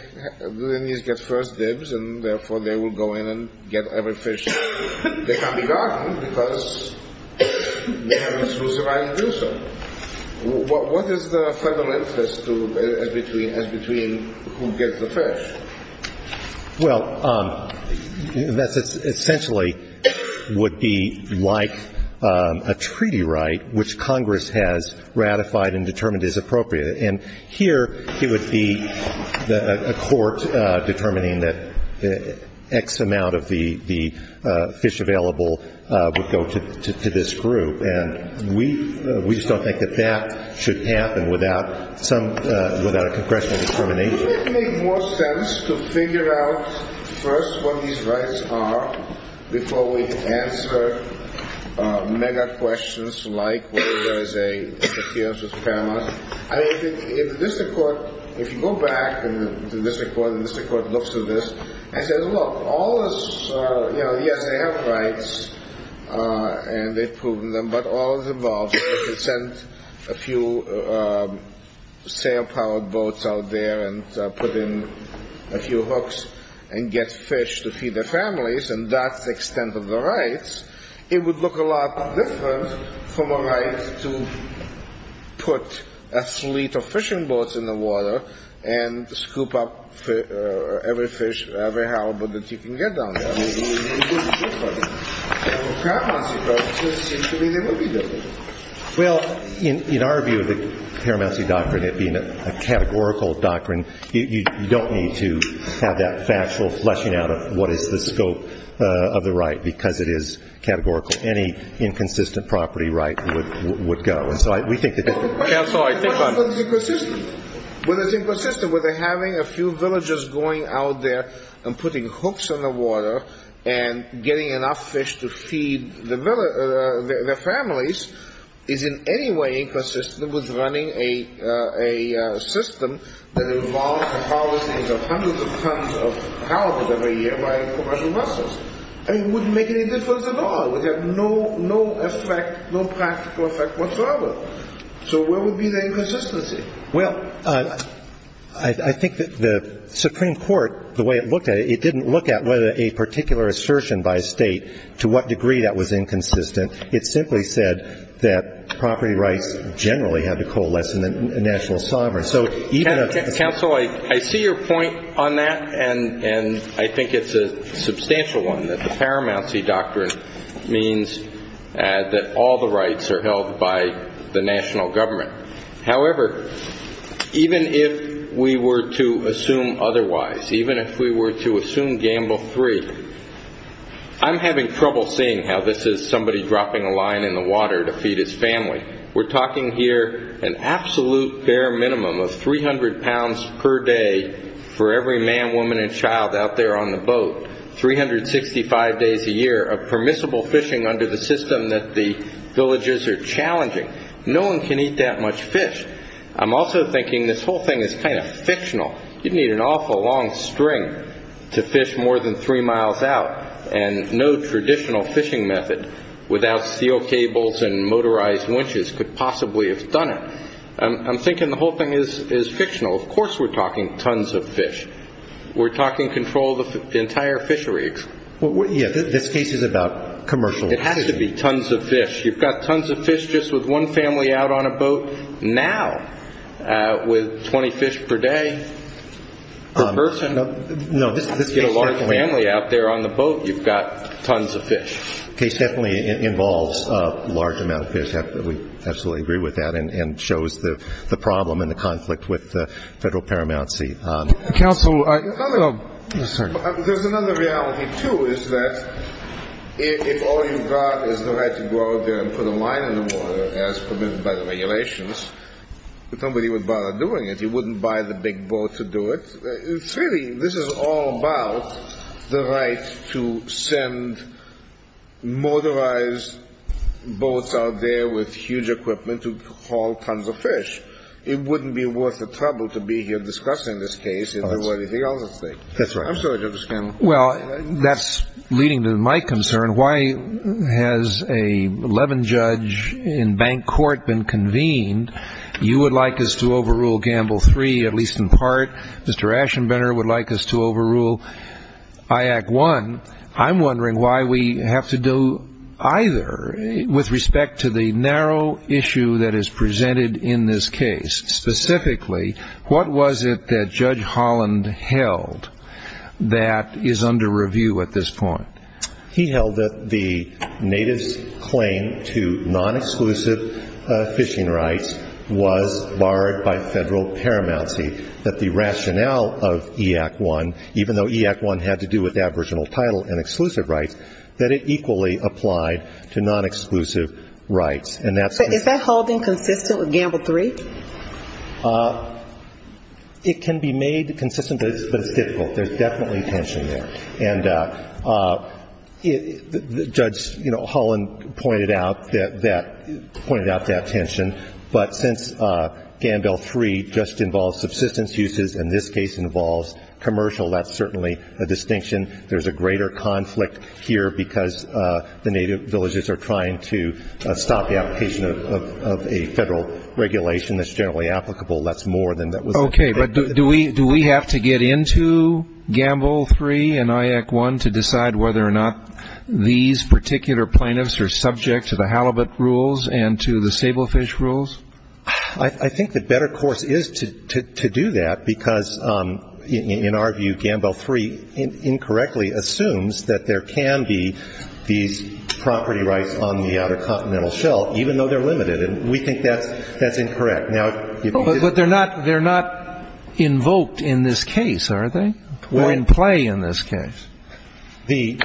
get first dibs and therefore they will go in and get every fish they can be gotten because they have the exclusive right to do so. What is the federal interest as between who gets the fish? Well, that essentially would be like a treaty right, which Congress has ratified and determined is appropriate. And here it would be a court determining that X amount of the fish available would go to this group. And we just don't think that that should happen without a congressional determination. Wouldn't it make more sense to figure out first what these rights are before we answer mega questions like whether there is an appearance of paramount? I think if the district court, if you go back and the district court looks at this and says, look, all this, you know, yes, they have rights and they've proven them, but all is involved if you send a few sail-powered boats out there and put in a few hooks and get fish to feed their families, and that's the extent of the rights, it would look a lot different from a right to put a fleet of fishing boats in the water and scoop up every fish, every halibut that you can get down there. It would be different. Paramount's doctrine seems to me they would be different. Well, in our view of the paramount doctrine, it being a categorical doctrine, you don't need to have that factual fleshing out of what is the scope of the right, because it is categorical. Any inconsistent property right would go. I'm sorry, we think the district court is inconsistent. Whether it's inconsistent with having a few villagers going out there and putting hooks in the water and getting enough fish to feed their families is in any way inconsistent with running a system that involves a policy of hundreds of tons of halibut every year by commercial vessels. I mean, it wouldn't make any difference at all. It would have no effect, no practical effect whatsoever. So where would be the inconsistency? Well, I think that the Supreme Court, the way it looked at it, it didn't look at whether a particular assertion by a state to what degree that was inconsistent. It simply said that property rights generally have to coalesce in the national sovereignty. Counsel, I see your point on that, and I think it's a substantial one, that the paramount doctrine means that all the rights are held by the national government. However, even if we were to assume otherwise, even if we were to assume gamble three, I'm having trouble seeing how this is somebody dropping a line in the water to feed his family. We're talking here an absolute bare minimum of 300 pounds per day for every man, woman, and child out there on the boat, 365 days a year of permissible fishing under the system that the villages are challenging. No one can eat that much fish. I'm also thinking this whole thing is kind of fictional. You'd need an awful long string to fish more than three miles out, and no traditional fishing method without steel cables and motorized winches could possibly have done it. I'm thinking the whole thing is fictional. Of course we're talking tons of fish. We're talking control of the entire fishery. Yeah, this case is about commercial fishing. It has to be tons of fish. You've got tons of fish just with one family out on a boat. Now, with 20 fish per day per person, you get a large family out there on the boat. You've got tons of fish. The case definitely involves a large amount of fish. We absolutely agree with that and shows the problem and the conflict with the federal paramount seat. There's another reality, too, is that if all you've got is the right to go out there and put a line in the water, as permitted by the regulations, somebody would bother doing it. You wouldn't buy the big boat to do it. Really, this is all about the right to send motorized boats out there with huge equipment to haul tons of fish. It wouldn't be worth the trouble to be here discussing this case if there were anything else at stake. I'm sorry to understand. Well, that's leading to my concern. Why has an 11-judge in bank court been convened? You would like us to overrule Gamble 3, at least in part. Mr. Aschenbrenner would like us to overrule IAC 1. I'm wondering why we have to do either with respect to the narrow issue that is presented in this case. Specifically, what was it that Judge Holland held that is under review at this point? He held that the native's claim to non-exclusive fishing rights was barred by federal paramount seat, that the rationale of IAC 1, even though IAC 1 had to do with aboriginal title and exclusive rights, that it equally applied to non-exclusive rights. Is that holding consistent with Gamble 3? It can be made consistent, but it's difficult. There's definitely tension there. And Judge Holland pointed out that tension. But since Gamble 3 just involves subsistence uses and this case involves commercial, that's certainly a distinction. There's a greater conflict here because the native villages are trying to stop the application of a federal regulation that's generally applicable. That's more than that was indicated. But do we have to get into Gamble 3 and IAC 1 to decide whether or not these particular plaintiffs are subject to the halibut rules and to the sablefish rules? I think the better course is to do that because, in our view, Gamble 3 incorrectly assumes that there can be these property rights on the Outer Continental Shelf, even though they're limited. And we think that's incorrect. But they're not invoked in this case, are they, or in play in this case? The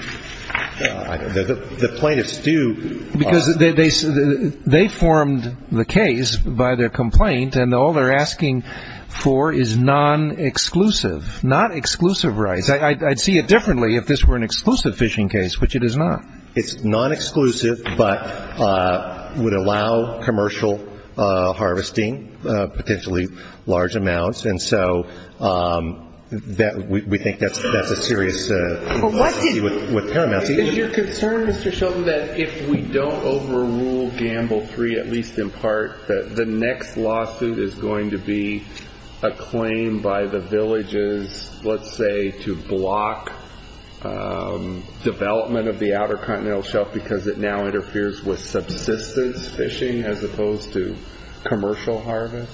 plaintiffs do. Because they formed the case by their complaint, and all they're asking for is non-exclusive, not exclusive rights. I'd see it differently if this were an exclusive fishing case, which it is not. It's non-exclusive but would allow commercial harvesting, potentially large amounts. And so we think that's a serious issue with Paramount. Is your concern, Mr. Sheldon, that if we don't overrule Gamble 3, at least in part, that the next lawsuit is going to be a claim by the villages, let's say, to block development of the Outer Continental Shelf because it now interferes with subsistence fishing as opposed to commercial harvest?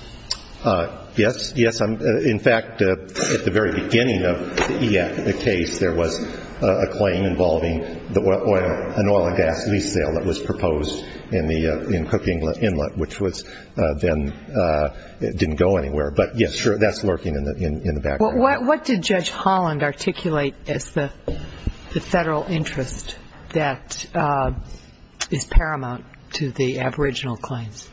Yes. In fact, at the very beginning of the case, there was a claim involving an oil and gas lease sale that was proposed in Cook Inlet, which then didn't go anywhere. But, yes, sure, that's lurking in the background. What did Judge Holland articulate as the Federal interest that is Paramount to the aboriginal claims?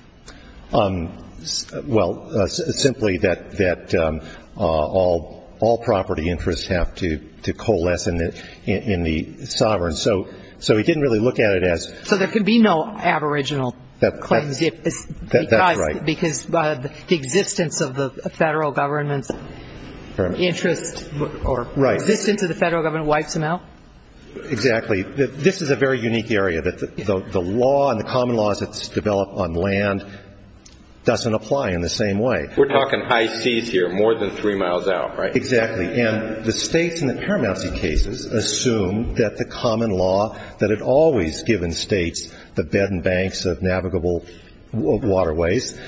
Well, simply that all property interests have to coalesce in the sovereign. So he didn't really look at it as So there can be no aboriginal claims because the existence of the Federal Government's interest or existence of the Federal Government wipes them out? Exactly. This is a very unique area that the law and the common laws that's developed on land doesn't apply in the same way. We're talking high seas here, more than three miles out, right? Exactly. And the states in the Paramount cases assume that the common law that had always given states the bed and banks of navigable waterways,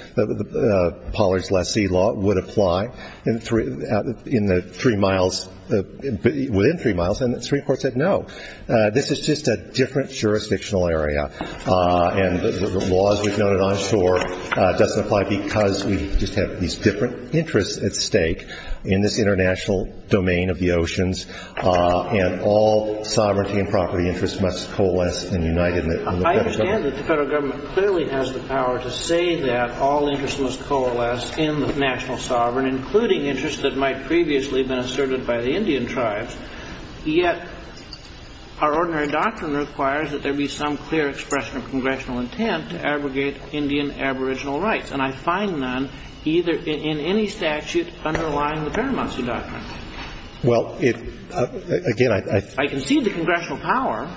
Pollard's last sea law, would apply within three miles. And the Supreme Court said no. This is just a different jurisdictional area. And the laws we've noted on shore doesn't apply because we just have these different interests at stake in this international domain of the oceans. And all sovereignty and property interests must coalesce and unite in the Federal Government. I understand that the Federal Government clearly has the power to say that all interests must coalesce in the national sovereign, including interests that might previously have been asserted by the Indian tribes. Yet our ordinary doctrine requires that there be some clear expression of congressional intent to abrogate Indian aboriginal rights. And I find none either in any statute underlying the Paramount's doctrine. Well, it – again, I – I concede the congressional power.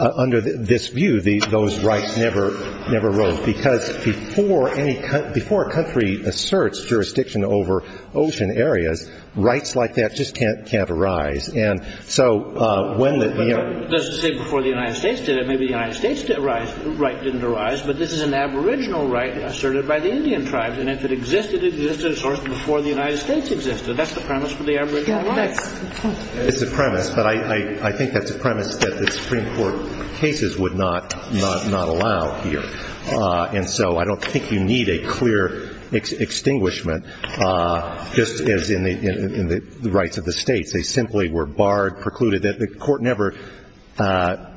Under this view, those rights never arose. Because before any – before a country asserts jurisdiction over ocean areas, rights like that just can't arise. And so when the – But that doesn't say before the United States did it. Maybe the United States didn't arise – right didn't arise. But this is an aboriginal right asserted by the Indian tribes. And if it existed, it existed before the United States existed. That's the premise for the aboriginal rights. Yeah, that's – It's the premise. But I think that's a premise that the Supreme Court cases would not allow here. And so I don't think you need a clear extinguishment just as in the rights of the states. They simply were barred, precluded. The Court never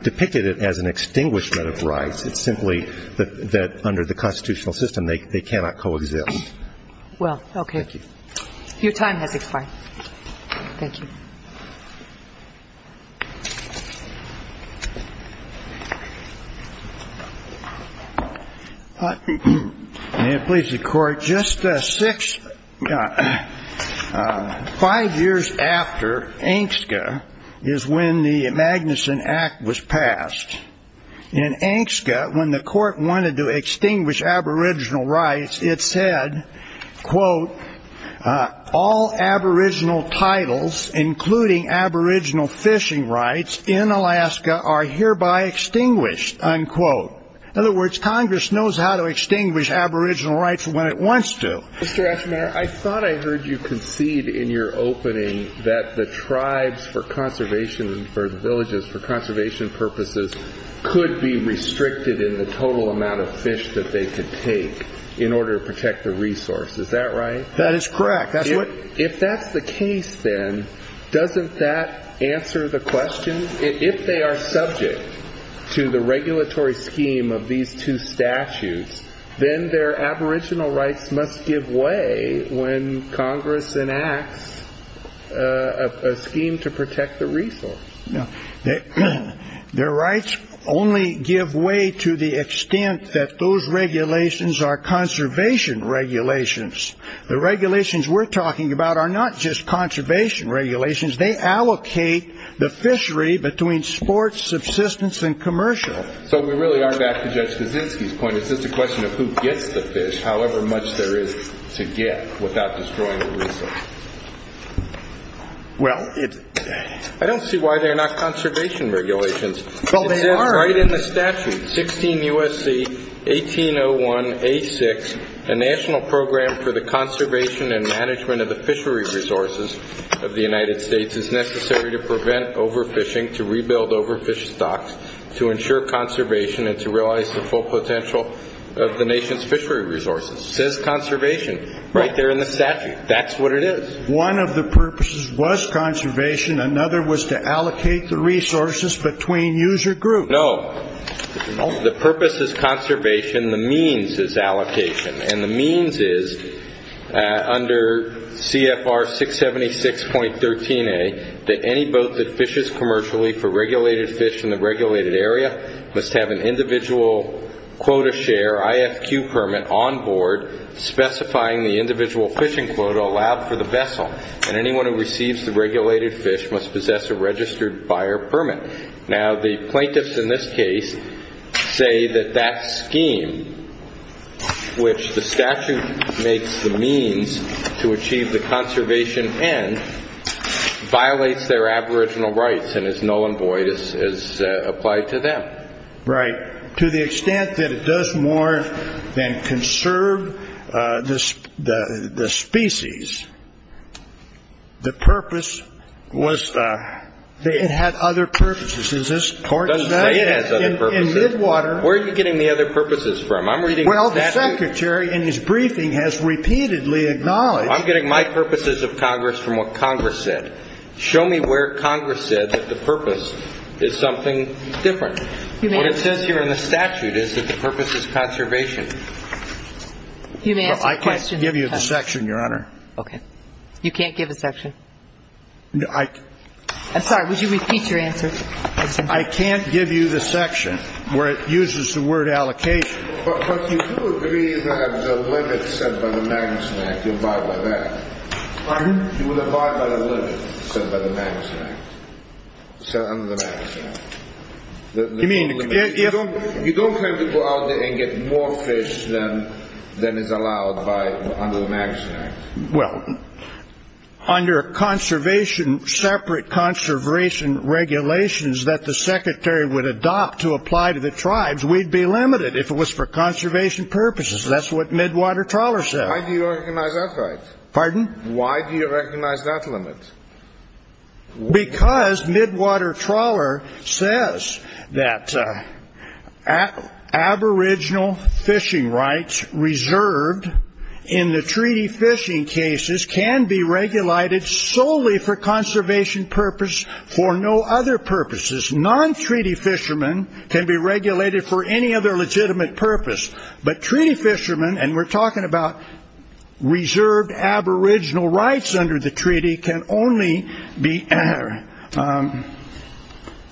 depicted it as an extinguishment of rights. It's simply that under the constitutional system, they cannot coexist. Well, okay. Thank you. Your time has expired. Thank you. May it please the Court. Just six – five years after AINSCA is when the Magnuson Act was passed. In AINSCA, when the Court wanted to extinguish aboriginal rights, it said, quote, all aboriginal titles, including aboriginal fishing rights, in Alaska are hereby extinguished, unquote. In other words, Congress knows how to extinguish aboriginal rights when it wants to. Mr. Ashmeyer, I thought I heard you concede in your opening that the tribes for conservation for conservation purposes could be restricted in the total amount of fish that they could take in order to protect the resource. Is that right? That is correct. If that's the case, then doesn't that answer the question? If they are subject to the regulatory scheme of these two statutes, then their aboriginal rights must give way when Congress enacts a scheme to protect the resource. Their rights only give way to the extent that those regulations are conservation regulations. The regulations we're talking about are not just conservation regulations. They allocate the fishery between sports, subsistence, and commercial. So we really are back to Judge Kaczynski's point. Is this a question of who gets the fish, however much there is to get, without destroying the resource? I don't see why they're not conservation regulations. It says right in the statute, 16 U.S.C. 1801A6, a national program for the conservation and management of the fishery resources of the United States is necessary to prevent overfishing, to rebuild overfished stocks, to ensure conservation, and to realize the full potential of the nation's fishery resources. It says conservation right there in the statute. That's what it is. One of the purposes was conservation. Another was to allocate the resources between user groups. No. The purpose is conservation. The means is allocation. And the means is, under CFR 676.13a, that any boat that fishes commercially for regulated fish in the regulated area must have an individual quota share, IFQ permit, on board, specifying the individual fishing quota allowed for the vessel. And anyone who receives the regulated fish must possess a registered buyer permit. Now, the plaintiffs in this case say that that scheme, which the statute makes the means to achieve the conservation end, violates their aboriginal rights and is null and void as applied to them. Right. To the extent that it does more than conserve the species, the purpose was that it had other purposes. Is this correct? It doesn't say it has other purposes. In Midwater. Where are you getting the other purposes from? I'm reading the statute. Well, the secretary, in his briefing, has repeatedly acknowledged. I'm getting my purposes of Congress from what Congress said. Show me where Congress said that the purpose is something different. What it says here in the statute is that the purpose is conservation. You may ask a question. I can't give you the section, Your Honor. Okay. You can't give a section? No, I can't. I'm sorry. Would you repeat your answer? I can't give you the section where it uses the word allocation. But you do agree that the limit set by the Magnuson Act, you abide by that. Pardon? You would abide by the limit set by the Magnuson Act, set under the Magnuson Act. You don't have to go out there and get more fish than is allowed under the Magnuson Act. Well, under separate conservation regulations that the secretary would adopt to apply to the tribes, we'd be limited if it was for conservation purposes. That's what Midwater Trawler says. How do you recognize that right? Pardon? Why do you recognize that limit? Because Midwater Trawler says that aboriginal fishing rights reserved in the treaty fishing cases can be regulated solely for conservation purposes for no other purposes. Non-treaty fishermen can be regulated for any other legitimate purpose. But treaty fishermen, and we're talking about reserved aboriginal rights under the treaty, can only be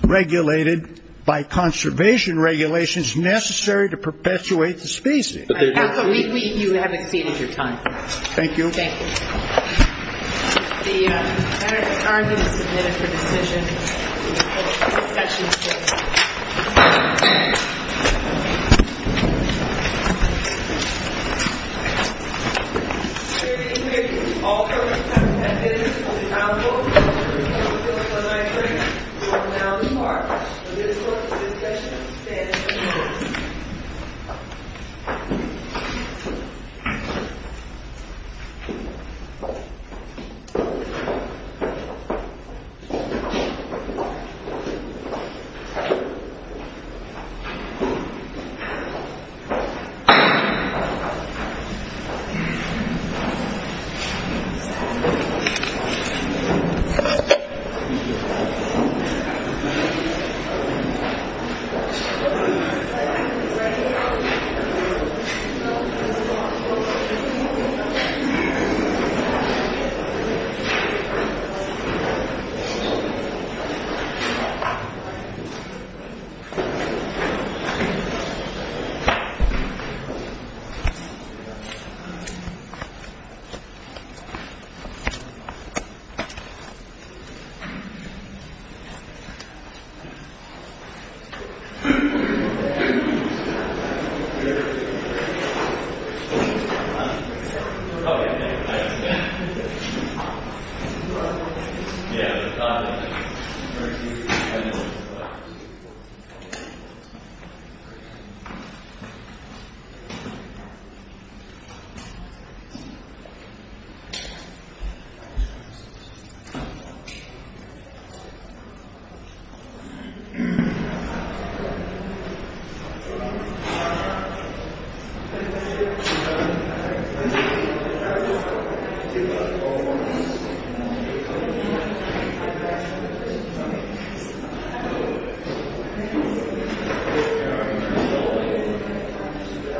regulated by conservation regulations necessary to perpetuate the species. You have exceeded your time. Thank you. Thank you. The matter is currently submitted for decision. The session is closed. I would like to thank all the members of the Council for their participation in my hearing. We will now depart. The minutes for this session stand unannounced. Thank you. Thank you. Yeah, it's not in there. Thank you. Thank you. Thank you. Thank you.